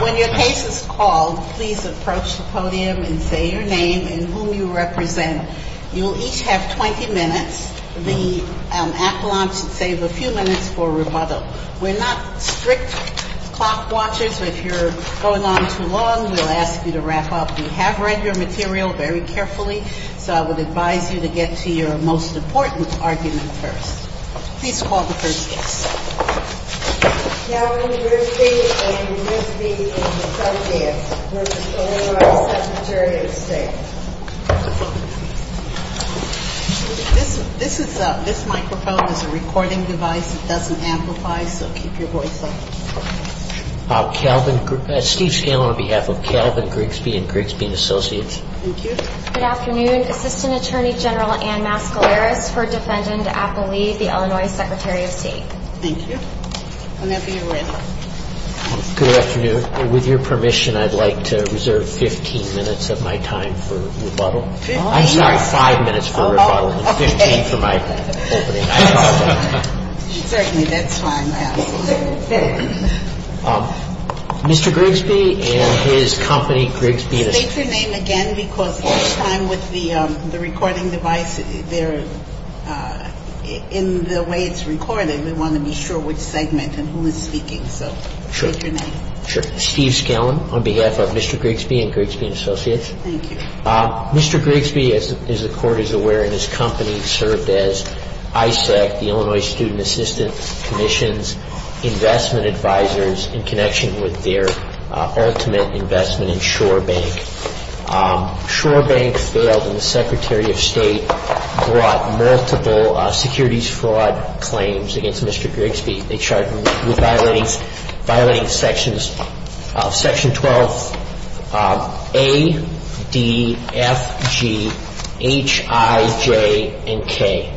When your case is called, please approach the podium and say your name and whom you represent. You will each have 20 minutes. The appellant should save a few minutes for rebuttal. We're not strict clock watchers. If you're going on too long, we'll ask you to wrap up. We have read your material very carefully, so I would advise you to get to your most important argument first. Please call the first case. Calvin Grigsby v. Grigsby, Associates v. O.R., Secretary of State This microphone is a recording device. It doesn't amplify, so keep your voice up. Steve Scalen, on behalf of Calvin Grigsby and Grigsby and Associates. Good afternoon. Assistant Attorney General Ann Mascaleras, for Defendant Appellee, the Illinois Secretary of State. Thank you. Whenever you're ready. Good afternoon. With your permission, I'd like to reserve 15 minutes of my time for rebuttal. I'm sorry, five minutes for rebuttal and 15 for my opening. Certainly, that's fine. Mr. Grigsby and his company, Grigsby. State your name again, because this time with the recording device, in the way it's recorded, we want to be sure which segment and who is speaking, so state your name. Sure. Steve Scalen, on behalf of Mr. Grigsby and Grigsby and Associates. Thank you. Mr. Grigsby, as the Court is aware, and his company, served as ISAC, the Illinois Student Assistance Commission's investment advisors, in connection with their ultimate investment in Shore Bank. Shore Bank failed, and the Secretary of State brought multiple securities fraud claims against Mr. Grigsby. They charged him with violating Section 12A, D, F, G, H, I, J, and K.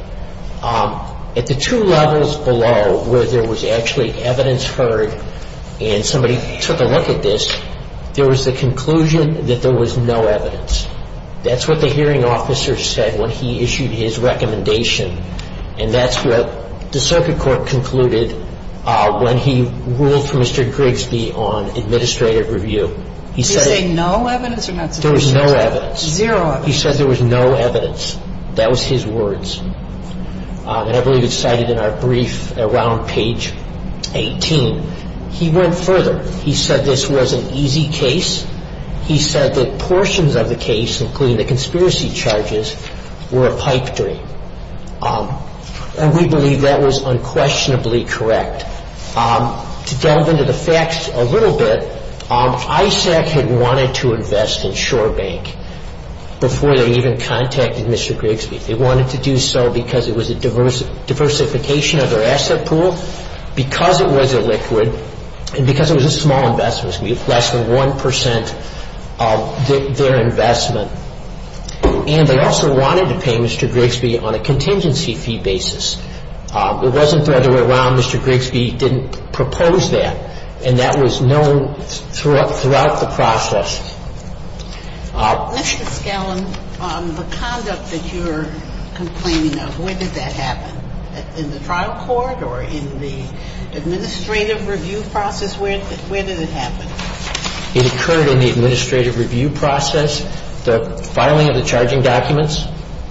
At the two levels below, where there was actually evidence heard, and somebody took a look at this, there was the conclusion that there was no evidence. That's what the hearing officer said when he issued his recommendation, and that's what the circuit court concluded when he ruled for Mr. Grigsby on administrative review. Did he say no evidence or not sufficient? There was no evidence. Zero evidence. He said there was no evidence. That was his words. And I believe it's cited in our brief around page 18. He went further. He said this was an easy case. He said that portions of the case, including the conspiracy charges, were a pipe dream, and we believe that was unquestionably correct. To delve into the facts a little bit, ISAC had wanted to invest in Shore Bank before they even contacted Mr. Grigsby. They wanted to do so because it was a diversification of their asset pool, because it was a liquid, and because it was a small investment. It was going to be less than 1 percent of their investment. And they also wanted to pay Mr. Grigsby on a contingency fee basis. It wasn't the other way around. Mr. Grigsby didn't propose that, and that was known throughout the process. Mr. Scallon, the conduct that you're complaining of, when did that happen? In the trial court or in the administrative review process? Where did it happen? It occurred in the administrative review process, the filing of the charging documents,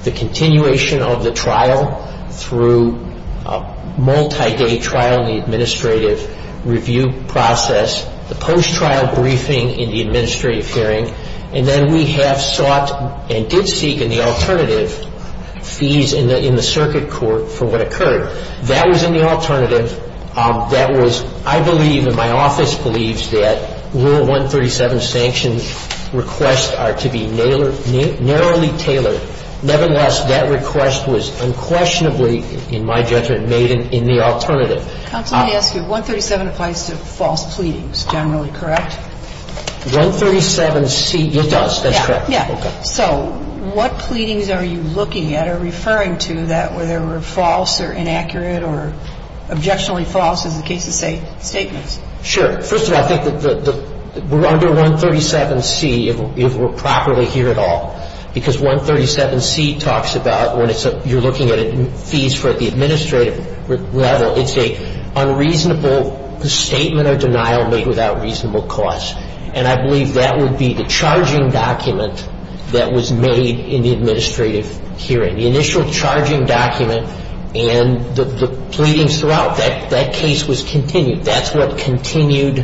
the continuation of the trial through a multi-day trial in the administrative review process, the post-trial briefing in the administrative hearing, and then we have sought and did seek in the alternative fees in the circuit court for what occurred. That was in the alternative. I believe and my office believes that Rule 137 sanctions requests are to be narrowly tailored. Nevertheless, that request was unquestionably, in my judgment, made in the alternative. Counsel, let me ask you. 137 applies to false pleadings, generally correct? 137C, it does. That's correct. Yeah. Yeah. Okay. So what pleadings are you looking at or referring to that were false or inaccurate or objectionably false in the case of statements? Sure. First of all, I think that under 137C, if we're properly here at all, because 137C talks about when you're looking at fees for the administrative level, it's an unreasonable statement or denial made without reasonable cause. And I believe that would be the charging document that was made in the administrative hearing. The initial charging document and the pleadings throughout, that case was continued. That's what continued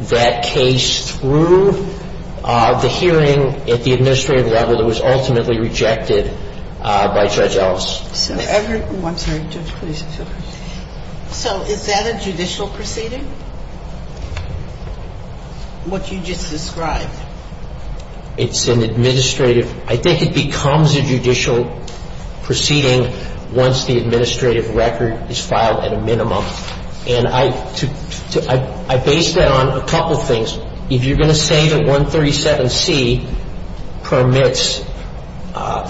that case through the hearing at the administrative level that was ultimately rejected by Judge Ellis. I'm sorry. Judge, please. So is that a judicial proceeding, what you just described? It's an administrative. I think it becomes a judicial proceeding once the administrative record is filed at a minimum. And I base that on a couple things. First, if you're going to say that 137C permits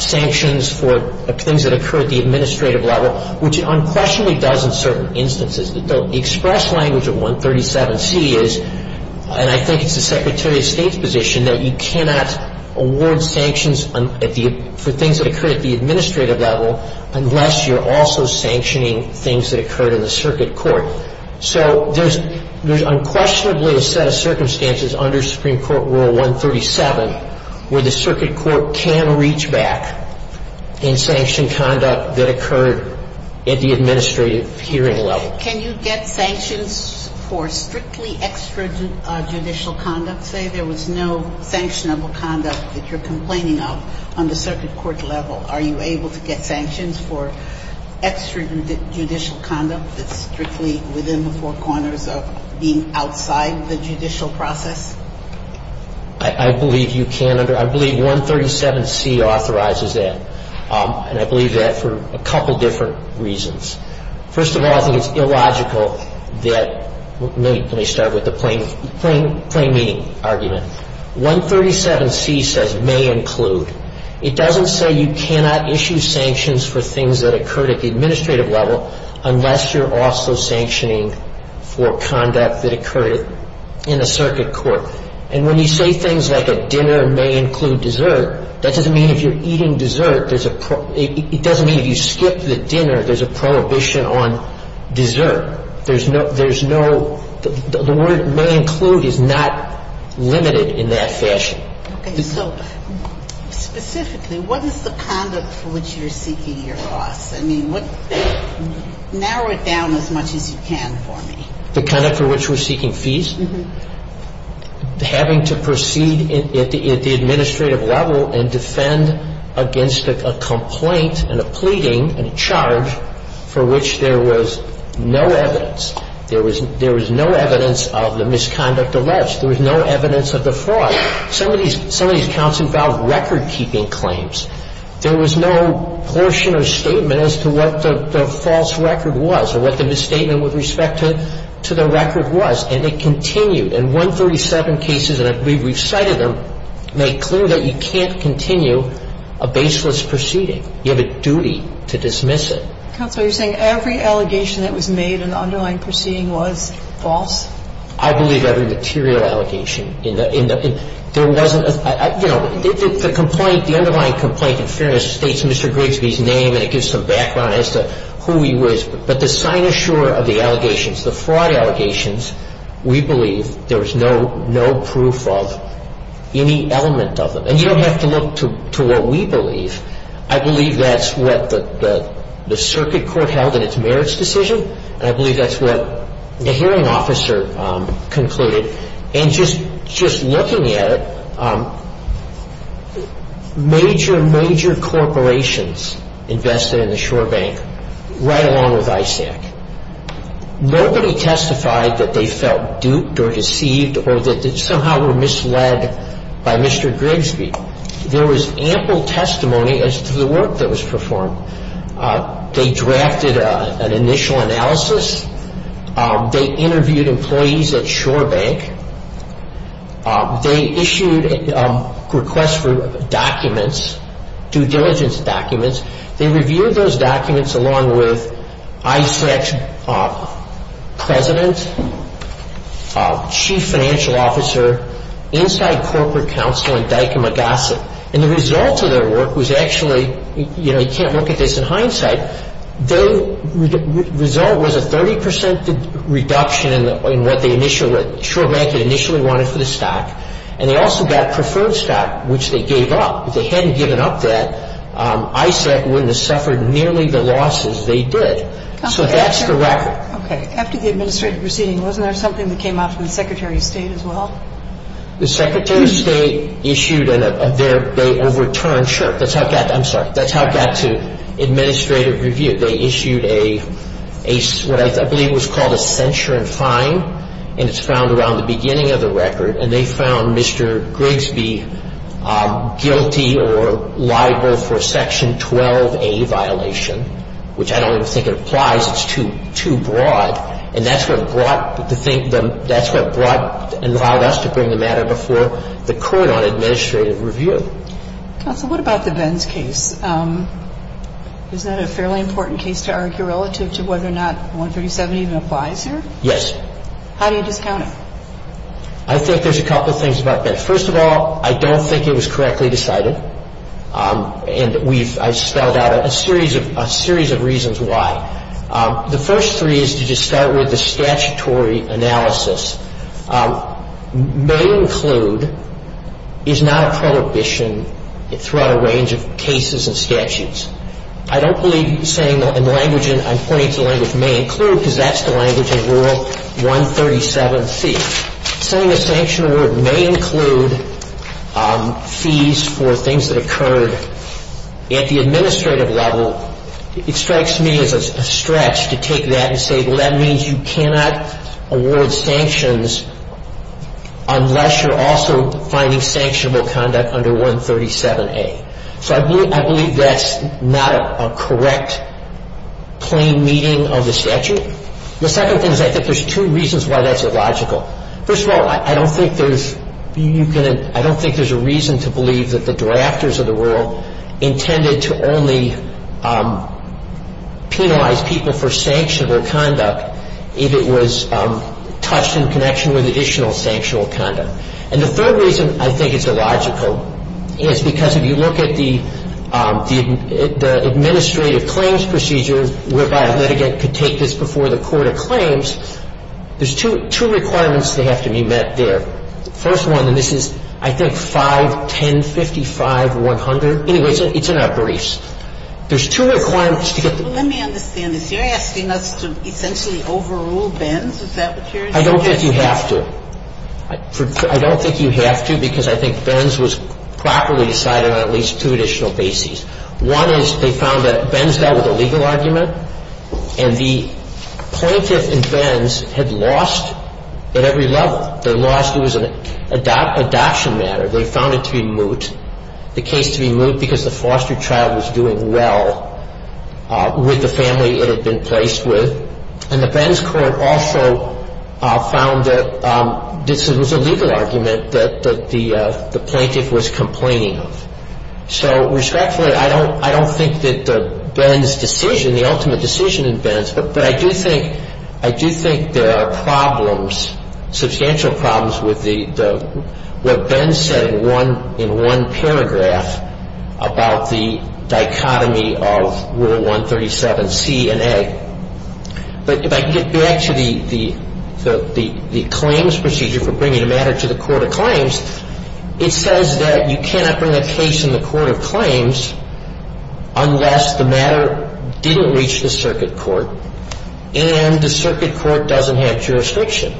sanctions for things that occur at the administrative level, which it unquestionably does in certain instances. The express language of 137C is, and I think it's the Secretary of State's position, that you cannot award sanctions for things that occur at the administrative level unless you're also sanctioning things that occurred in the circuit court. So there's unquestionably a set of circumstances under Supreme Court Rule 137 where the circuit court can reach back in sanctioned conduct that occurred at the administrative hearing level. Can you get sanctions for strictly extrajudicial conduct? Say there was no sanctionable conduct that you're complaining of on the circuit court level. Are you able to get sanctions for extrajudicial conduct that's strictly within the four corners of being outside the judicial process? I believe you can. I believe 137C authorizes that. And I believe that for a couple different reasons. First of all, I think it's illogical that, let me start with the plain meaning argument. 137C says may include. It doesn't say you cannot issue sanctions for things that occur at the administrative level unless you're also sanctioning for conduct that occurred in a circuit court. And when you say things like a dinner may include dessert, that doesn't mean if you're eating dessert, there's a – it doesn't mean if you skip the dinner, there's a prohibition on dessert. There's no – there's no – the word may include is not limited in that fashion. What is the conduct for which you are seeking your loss? I mean, what – narrow it down as much as you can for me. The conduct for which we're seeking fees, having to proceed at the – at the administrative level and defend against a complaint and a pleading and a charge for which there was no evidence. There was – there was no evidence of the misconduct alleged. There was no evidence of the fraud. Some of these – some of these counts involved record-keeping claims. There was no portion or statement as to what the false record was or what the misstatement with respect to the record was. And it continued. And 137 cases, and I believe we've cited them, make clear that you can't continue a baseless proceeding. You have a duty to dismiss it. Counsel, are you saying every allegation that was made in the underlying proceeding was false? I believe every material allegation in the – there wasn't a – you know, the complaint – the underlying complaint in Fairness states Mr. Grigsby's name, and it gives some background as to who he was. But the sign-and-sure of the allegations, the fraud allegations, we believe there was no – no proof of any element of them. And you don't have to look to what we believe. I believe that's what the circuit court held in its merits decision, and I believe that's what the hearing officer concluded. And just looking at it, major, major corporations invested in the Shore Bank, right along with ISAC. Nobody testified that they felt duped or deceived or that they somehow were misled by Mr. Grigsby. There was ample testimony as to the work that was performed. They drafted an initial analysis. They interviewed employees at Shore Bank. They issued a request for documents, due diligence documents. They reviewed those documents along with ISAC's president, chief financial officer, inside corporate counsel in Dykema Gossett. And the results of their work was actually – you know, you can't look at this in hindsight. Their result was a 30 percent reduction in what the initial – what Shore Bank had initially wanted for the stock. And they also got preferred stock, which they gave up. If they hadn't given up that, ISAC wouldn't have suffered nearly the losses they did. So that's the record. Okay. After the administrative proceeding, wasn't there something that came out from the Secretary of State as well? The Secretary of State issued a – they overturned – sure. That's how it got – I'm sorry. That's how it got to administrative review. They issued a – what I believe was called a censure and fine. And it's found around the beginning of the record. And they found Mr. Grigsby guilty or liable for a Section 12a violation, which I don't even think it applies. It's too broad. And that's what brought the thing – that's what brought and allowed us to bring the matter before the court on administrative review. Counsel, what about the Venn's case? Isn't that a fairly important case to argue relative to whether or not 137 even applies here? Yes. How do you discount it? I think there's a couple things about that. First of all, I don't think it was correctly decided. And we've – I spelled out a series of reasons why. The first three is to just start with the statutory analysis. May include is not a prohibition throughout a range of cases and statutes. I don't believe saying – and the language in – I'm pointing to the language may include because that's the language in Rule 137c. Saying a sanction award may include fees for things that occurred at the administrative level, it strikes me as a stretch to take that and say, well, that means you cannot award sanctions unless you're also finding sanctionable conduct under 137a. So I believe that's not a correct, plain meaning of the statute. The second thing is I think there's two reasons why that's illogical. First of all, I don't think there's – you can – I don't think there's a reason to believe that the drafters of the rule intended to only penalize people for sanctionable conduct if it was touched in connection with additional sanctionable conduct. And the third reason I think is illogical is because if you look at the administrative claims procedure whereby a litigant could take this before the court of claims, there's two requirements that have to be met there. First one, and this is, I think, 5, 10, 55, 100. Anyway, it's in our briefs. There's two requirements to get the – Let me understand this. You're asking us to essentially overrule Benz? Is that what you're suggesting? I don't think you have to. I don't think you have to because I think Benz was properly decided on at least two additional bases. One is they found that Benz dealt with a legal argument, and the plaintiff in Benz had lost at every level. They lost – it was an adoption matter. They found it to be moot, the case to be moot because the foster child was doing well with the family it had been placed with. And the Benz court also found that this was a legal argument that the plaintiff was complaining of. So, respectfully, I don't think that Benz's decision, the ultimate decision in Benz, But I do think – I do think there are problems, substantial problems, with what Benz said in one paragraph about the dichotomy of Rule 137C and A. But if I can get back to the claims procedure for bringing a matter to the court of claims, it says that you cannot bring a case in the court of claims unless the matter didn't reach the circuit court and the circuit court doesn't have jurisdiction.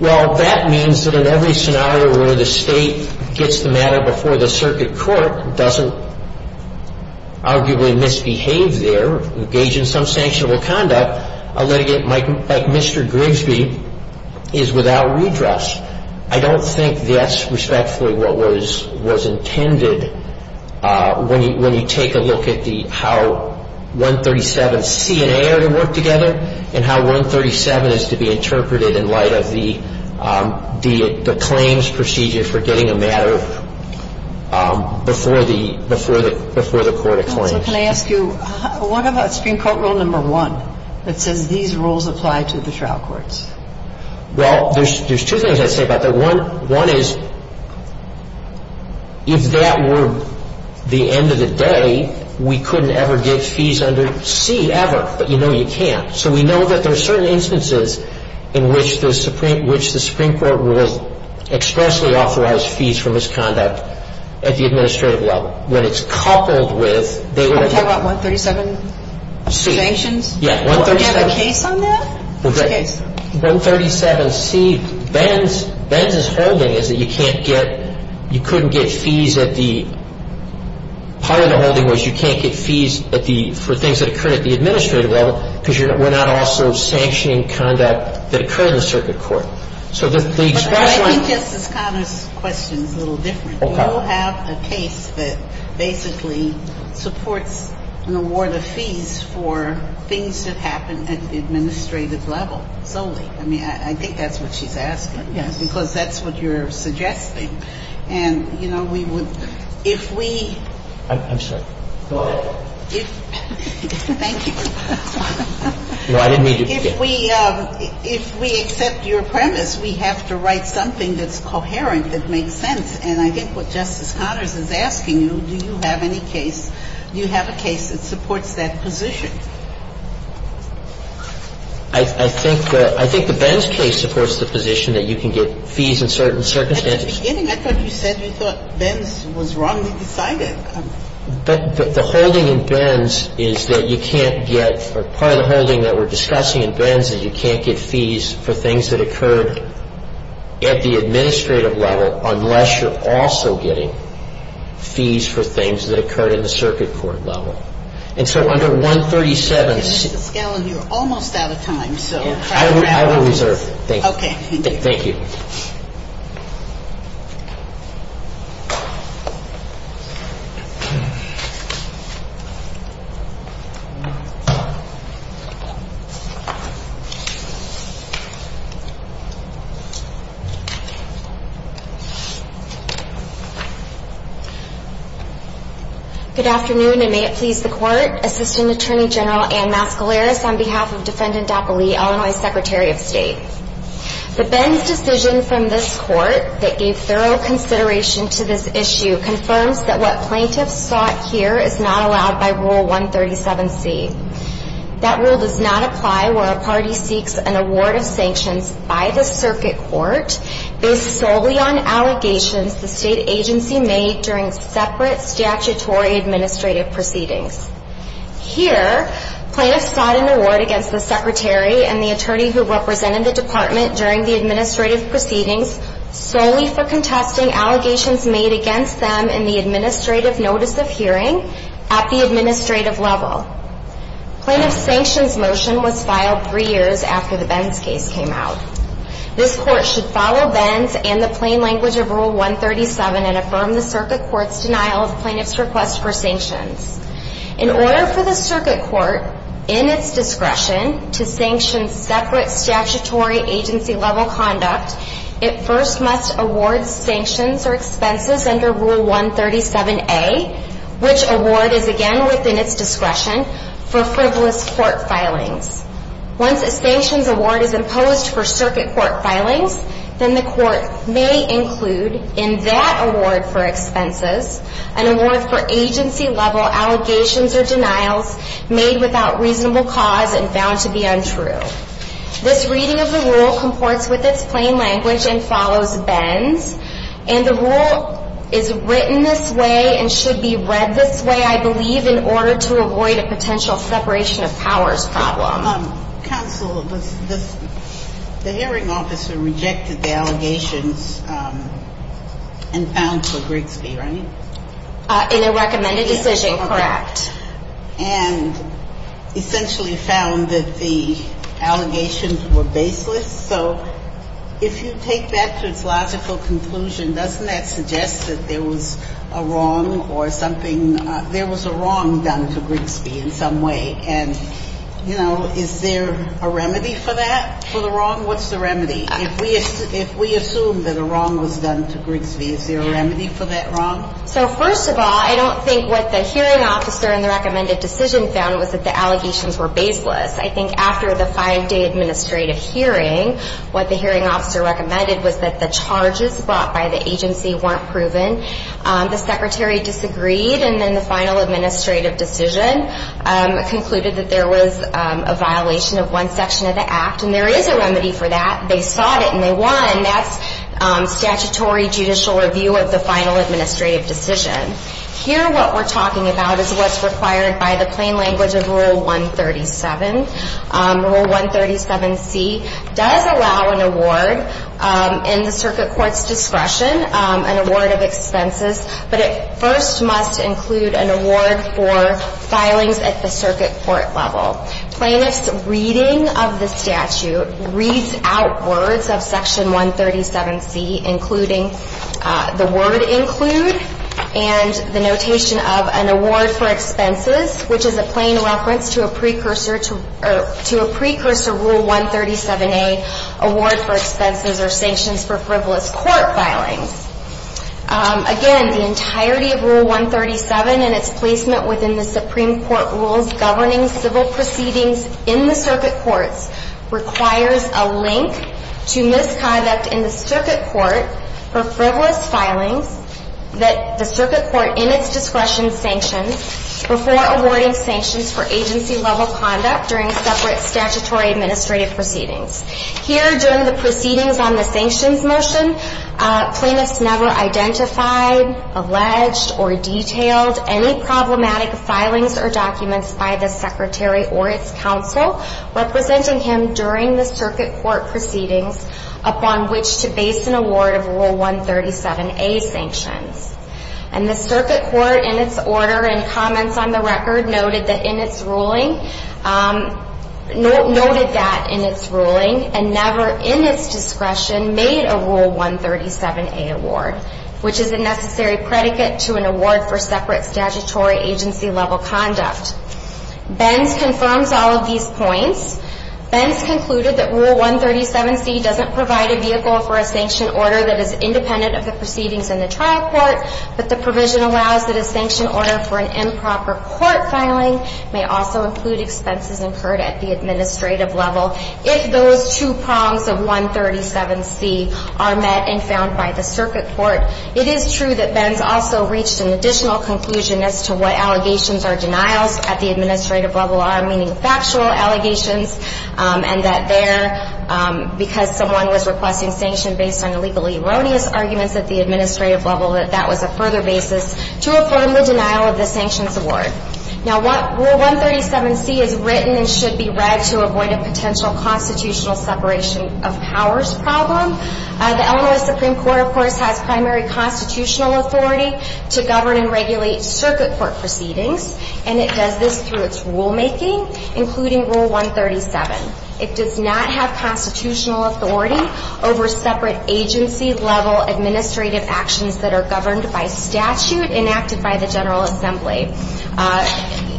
Well, that means that in every scenario where the State gets the matter before the circuit court and doesn't arguably misbehave there, engage in some sanctionable conduct, a litigant like Mr. Grigsby is without redress. I don't think that's respectfully what was intended when you take a look at how 137C and A are to work together and how 137 is to be interpreted in light of the claims procedure for getting a matter before the court of claims. So can I ask you, what about Supreme Court Rule No. 1 that says these rules apply to the trial courts? Well, there's two things I'd say about that. One is if that were the end of the day, we couldn't ever get fees under C ever, but you know you can. So we know that there are certain instances in which the Supreme Court will expressly authorize fees for misconduct at the administrative level. When it's coupled with they would have to – Are you talking about 137C? Yeah, 137. Do you have a case on that? Which case? 137C, Benz's holding is that you can't get – you couldn't get fees at the – part of the holding was you can't get fees for things that occur at the administrative level because we're not also sanctioning conduct that occurred in the circuit court. But I think Justice Conner's question is a little different. Okay. I don't have a case that basically supports an award of fees for things that happen at the administrative level solely. I mean, I think that's what she's asking. Yes. Because that's what you're suggesting. And, you know, we would – if we – I'm sorry. Go ahead. Thank you. No, I didn't mean to – If we accept your premise, we have to write something that's coherent, that makes sense. And I think what Justice Conner's is asking you, do you have any case – do you have a case that supports that position? I think the – I think the Benz case supports the position that you can get fees in certain circumstances. At the beginning, I thought you said you thought Benz was wrongly decided. But the holding in Benz is that you can't get – or part of the holding that we're discussing in Benz is you can't get fees for things that occurred at the administrative level unless you're also getting fees for things that occurred in the circuit court level. And so under 137 – Mr. Scanlon, you're almost out of time, so – I will reserve. Okay. Thank you. Thank you. Good afternoon, and may it please the Court. Assistant Attorney General Anne Mascalaris on behalf of Defendant Dacoly, Illinois Secretary of State. The Benz decision from this Court that gave thorough consideration to this issue confirms that what plaintiffs sought here is not allowed by Rule 137C. That rule does not apply where a party seeks an award of sanctions by the circuit court based solely on allegations the state agency made during separate statutory administrative proceedings. Here, plaintiffs sought an award against the secretary and the attorney who represented the department during the administrative proceedings solely for contesting allegations made against them in the administrative notice of hearing at the administrative level. Plaintiff's sanctions motion was filed three years after the Benz case came out. This Court should follow Benz and the plain language of Rule 137 and affirm the circuit court's denial of plaintiff's request for sanctions. In order for the circuit court, in its discretion, to sanction separate statutory agency-level conduct, it first must award sanctions or expenses under Rule 137A, which award is again within its discretion, for frivolous court filings. Once a sanctions award is imposed for circuit court filings, then the court may include in that award for expenses an award for agency-level allegations or denials made without reasonable cause and found to be untrue. This reading of the rule comports with its plain language and follows Benz, and the rule is written this way and should be read this way, I believe, in order to avoid a potential separation of powers problem. Counsel, the hearing officer rejected the allegations and found for Grigsby, right? In a recommended decision, correct. And essentially found that the allegations were baseless. So if you take that to its logical conclusion, doesn't that suggest that there was a wrong or something – there was a wrong done to Grigsby in some way? And, you know, is there a remedy for that, for the wrong? What's the remedy? If we assume that a wrong was done to Grigsby, is there a remedy for that wrong? So first of all, I don't think what the hearing officer in the recommended decision found was that the allegations were baseless. I think after the five-day administrative hearing, what the hearing officer recommended was that the charges brought by the agency weren't proven. The secretary disagreed, and then the final administrative decision concluded that there was a violation of one section of the act. And there is a remedy for that. They sought it, and they won. And that's statutory judicial review of the final administrative decision. Here, what we're talking about is what's required by the plain language of Rule 137. Rule 137C does allow an award in the circuit court's discretion, an award of expenses. But it first must include an award for filings at the circuit court level. Plaintiffs' reading of the statute reads out words of Section 137C, including the word include and the notation of an award for expenses, which is a plain reference to a precursor to Rule 137A, award for expenses or sanctions for frivolous court filings. Again, the entirety of Rule 137 and its placement within the Supreme Court rules governing civil proceedings in the circuit courts requires a link to misconduct in the circuit court for frivolous filings that the circuit court in its discretion sanctions before awarding sanctions for agency-level conduct during separate statutory administrative proceedings. Here, during the proceedings on the sanctions motion, plaintiffs never identified, alleged, or detailed any problematic filings or documents by the Secretary or its counsel representing him during the circuit court proceedings upon which to base an award of Rule 137A sanctions. And the circuit court in its order and comments on the record noted that in its ruling, noted that in its ruling and never in its discretion made a Rule 137A award, which is a necessary predicate to an award for separate statutory agency-level conduct. Benz confirms all of these points. Benz concluded that Rule 137C doesn't provide a vehicle for a sanction order that is independent of the proceedings in the trial court, but the provision allows that a sanction order for an improper court filing may also include expenses incurred at the administrative level if those two prongs of 137C are met and found by the circuit court. It is true that Benz also reached an additional conclusion as to what allegations or denials at the administrative level are, meaning factual allegations, and that there, because someone was requesting sanction based on illegally erroneous arguments at the administrative level, that that was a further basis to affirm the denial of the sanctions award. Now, Rule 137C is written and should be read to avoid a potential constitutional separation of powers problem. The Illinois Supreme Court, of course, has primary constitutional authority to govern and regulate circuit court proceedings, and it does this through its rulemaking, including Rule 137. It does not have constitutional authority over separate agency-level administrative actions that are governed by statute enacted by the General Assembly.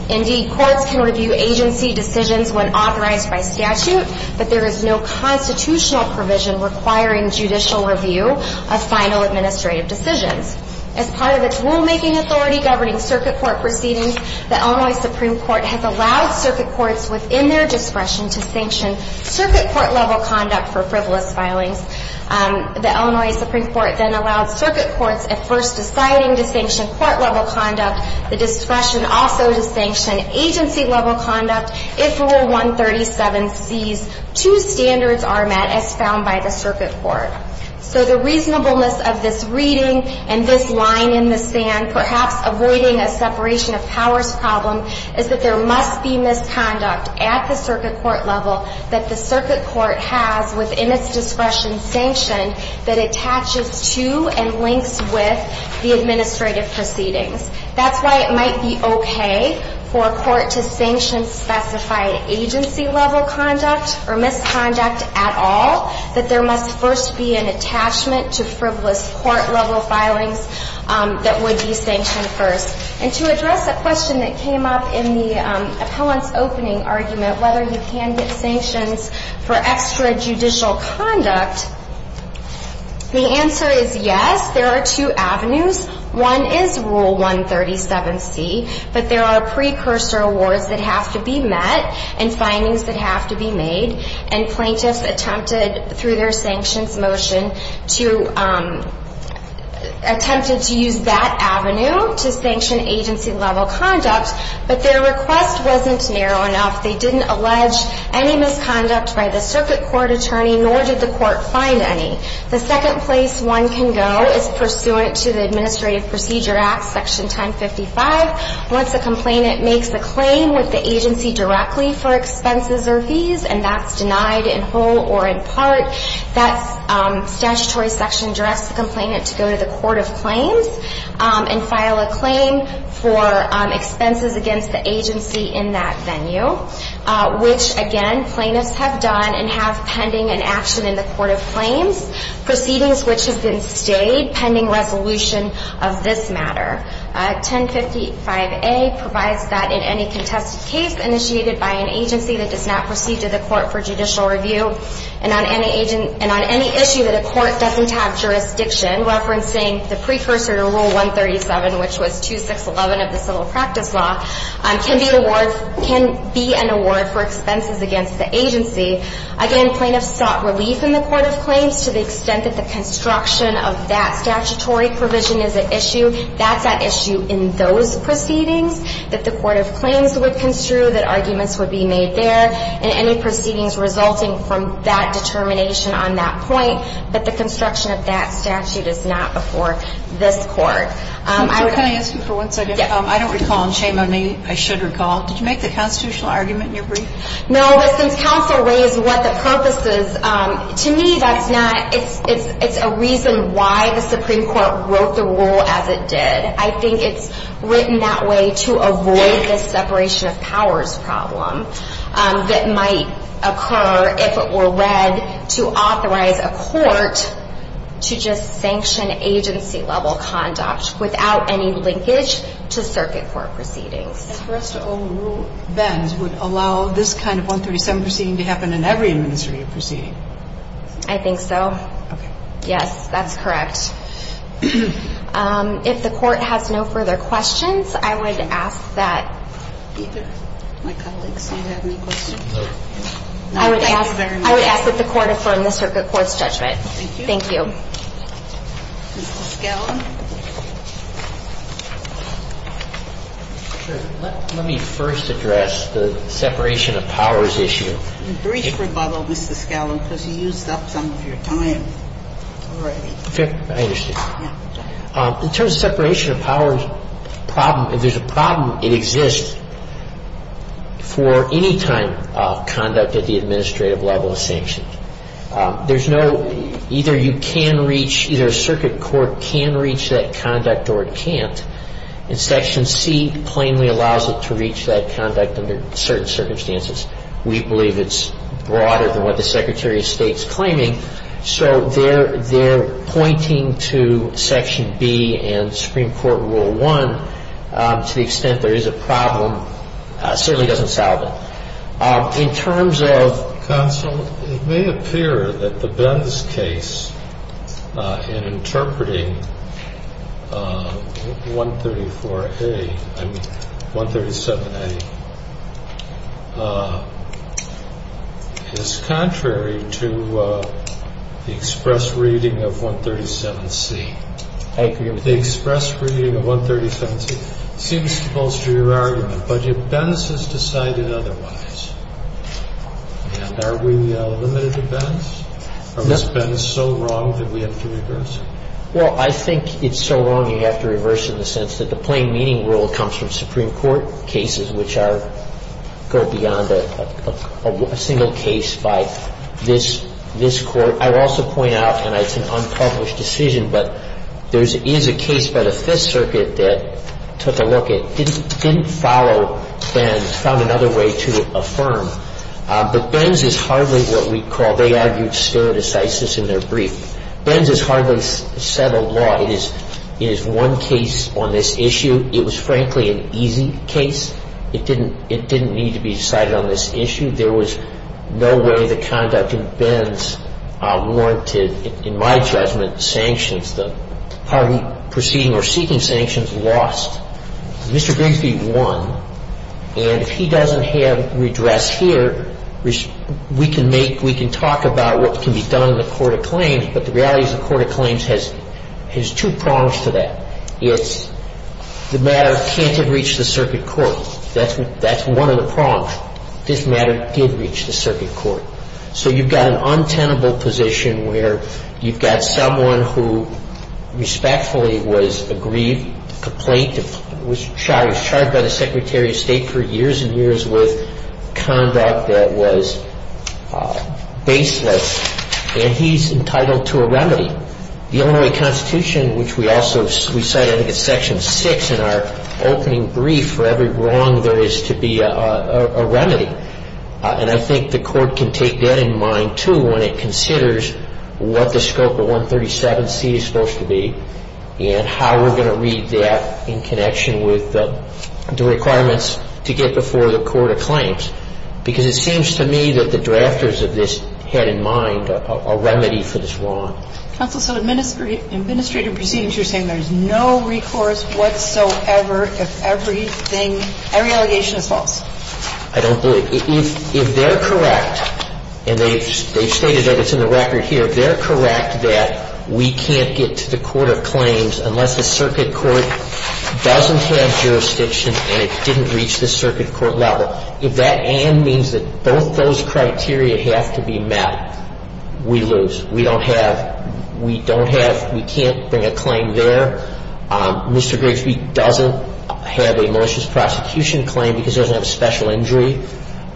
Indeed, courts can review agency decisions when authorized by statute, but there is no constitutional provision requiring judicial review of final administrative decisions. As part of its rulemaking authority governing circuit court proceedings, the Illinois Supreme Court has allowed circuit courts within their discretion to sanction circuit court-level conduct for frivolous filings. The Illinois Supreme Court then allowed circuit courts at first deciding to sanction court-level conduct. The discretion also to sanction agency-level conduct if Rule 137C's two standards are met as found by the circuit court. So the reasonableness of this reading and this line in the sand, perhaps avoiding a separation of powers problem, is that there must be misconduct at the circuit court level that the circuit court has within its discretion sanctioned that attaches to and links with the administrative proceedings. That's why it might be okay for a court to sanction specified agency-level conduct or misconduct at all, that there must first be an attachment to frivolous court-level filings that would be sanctioned first. And to address a question that came up in the appellant's opening argument, whether you can get sanctions for extrajudicial conduct, the answer is yes. There are two avenues. One is Rule 137C, but there are precursor awards that have to be met and findings that have to be made. And plaintiffs attempted, through their sanctions motion, attempted to use that avenue to sanction agency-level conduct, but their request wasn't narrow enough. They didn't allege any misconduct by the circuit court attorney, nor did the court find any. The second place one can go is pursuant to the Administrative Procedure Act, Section 1055. Once a complainant makes a claim with the agency directly for expenses or fees, and that's denied in whole or in part, that statutory section directs the complainant to go to the court of claims and file a claim for expenses against the agency in that venue, which, again, plaintiffs have done and have pending an action in the court of claims, proceedings which have been stayed pending resolution of this matter. 1055A provides that in any contested case initiated by an agency that does not proceed to the court for judicial review and on any issue that a court doesn't have jurisdiction, that the court has the discretion to file a claim for expenses against the agency. Section 1055, which is a statutory provision referencing the precursor to Rule 137, which was 2611 of the Civil Practice Law, can be an award for expenses against the agency. Again, plaintiffs sought relief in the court of claims to the extent that the construction of that statutory provision is at issue. That's at issue in those proceedings that the court of claims would construe, that arguments would be made there, and any proceedings resulting from that determination on that point, but the construction of that statute is not before this Court. Can I ask you for one second? Yes. I don't recall, and shame on me. I should recall. Did you make the constitutional argument in your brief? No, but since counsel raised what the purpose is, to me that's not – it's a reason why the Supreme Court wrote the rule as it did. I think it's written that way to avoid this separation of powers problem that might occur if it were read to authorize a court to just sanction agency-level conduct without any linkage to circuit court proceedings. And for us to overrule Venn's would allow this kind of 137 proceeding to happen in every administrative proceeding? I think so. Okay. Yes, that's correct. If the court has no further questions, I would ask that – Peter, my colleagues, do you have any questions? No. I would ask that the court affirm the circuit court's judgment. Thank you. Thank you. Mr. Scallan. Let me first address the separation of powers issue. A brief rebuttal, Mr. Scallan, because you used up some of your time already. I understand. In terms of separation of powers problem, if there's a problem, it exists for any kind of conduct at the administrative level of sanctions. There's no – either you can reach – either a circuit court can reach that conduct or it can't. And Section C plainly allows it to reach that conduct under certain circumstances. We believe it's broader than what the Secretary of State's claiming. So they're pointing to Section B and Supreme Court Rule 1 to the extent there is a problem. It certainly doesn't solve it. In terms of – Counsel, it may appear that the Benz case in interpreting 134A – I mean 137A is contrary to the express reading of 137C. Thank you. It seems to bolster your argument. But if Benz has decided otherwise, and are we limited to Benz? No. Or is Benz so wrong that we have to reverse it? Well, I think it's so wrong you have to reverse it in the sense that the plain meaning rule comes from Supreme Court cases which are – go beyond a single case by this court. I would also point out, and it's an unpublished decision, but there is a case by the Fifth Circuit that took a look at – didn't follow Benz, found another way to affirm. But Benz is hardly what we call – they argued stare decisis in their brief. Benz is hardly settled law. It is one case on this issue. It was, frankly, an easy case. It didn't need to be decided on this issue. I think there was no way the conduct in Benz warranted, in my judgment, sanctions. The party proceeding or seeking sanctions lost. Mr. Grigsby won. And if he doesn't have redress here, we can make – we can talk about what can be done in the court of claims, but the reality is the court of claims has two prongs to that. It's the matter can't have reached the circuit court. That's one of the prongs. This matter did reach the circuit court. So you've got an untenable position where you've got someone who respectfully was aggrieved, complained, was charged, charged by the Secretary of State for years and years with conduct that was baseless, And I think the court can take that in mind, too, when it considers what the scope of 137C is supposed to be and how we're going to read that in connection with the requirements to get before the court of claims. Because it seems to me that the drafters of this had in mind a remedy for this wrong. Kagan. Yes, Your Honor. Counsel, so administrative proceedings, you're saying there's no recourse whatsoever if everything, every allegation is false? I don't believe. If they're correct, and they've stated that. It's in the record here. They're correct that we can't get to the court of claims unless the circuit court doesn't have jurisdiction and it didn't reach the circuit court level. If that and means that both those criteria have to be met, we lose. We don't have, we don't have, we can't bring a claim there. Mr. Grigsby doesn't have a malicious prosecution claim because he doesn't have a special injury.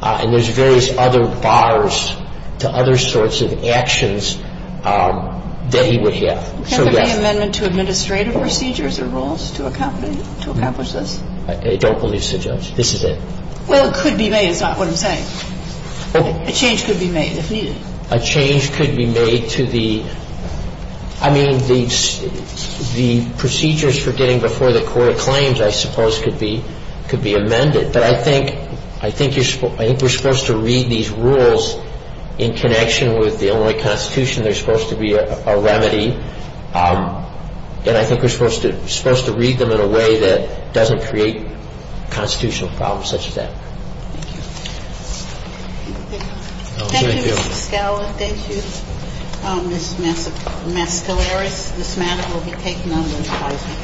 And there's various other bars to other sorts of actions that he would have. So, yes. Can't there be an amendment to administrative procedures or rules to accomplish this? I don't believe so, Judge. This is it. Well, it could be made is not what I'm saying. A change could be made if needed. A change could be made to the, I mean, the procedures for getting before the court of claims, I suppose, could be amended. But I think, I think you're, I think we're supposed to read these rules in connection with the Illinois Constitution. They're supposed to be a remedy. And I think we're supposed to, supposed to read them in a way that doesn't create constitutional problems such as that. Thank you. Thank you, Mr. Scala. Thank you, Ms. Mascaleras. This matter will be taken under advisory.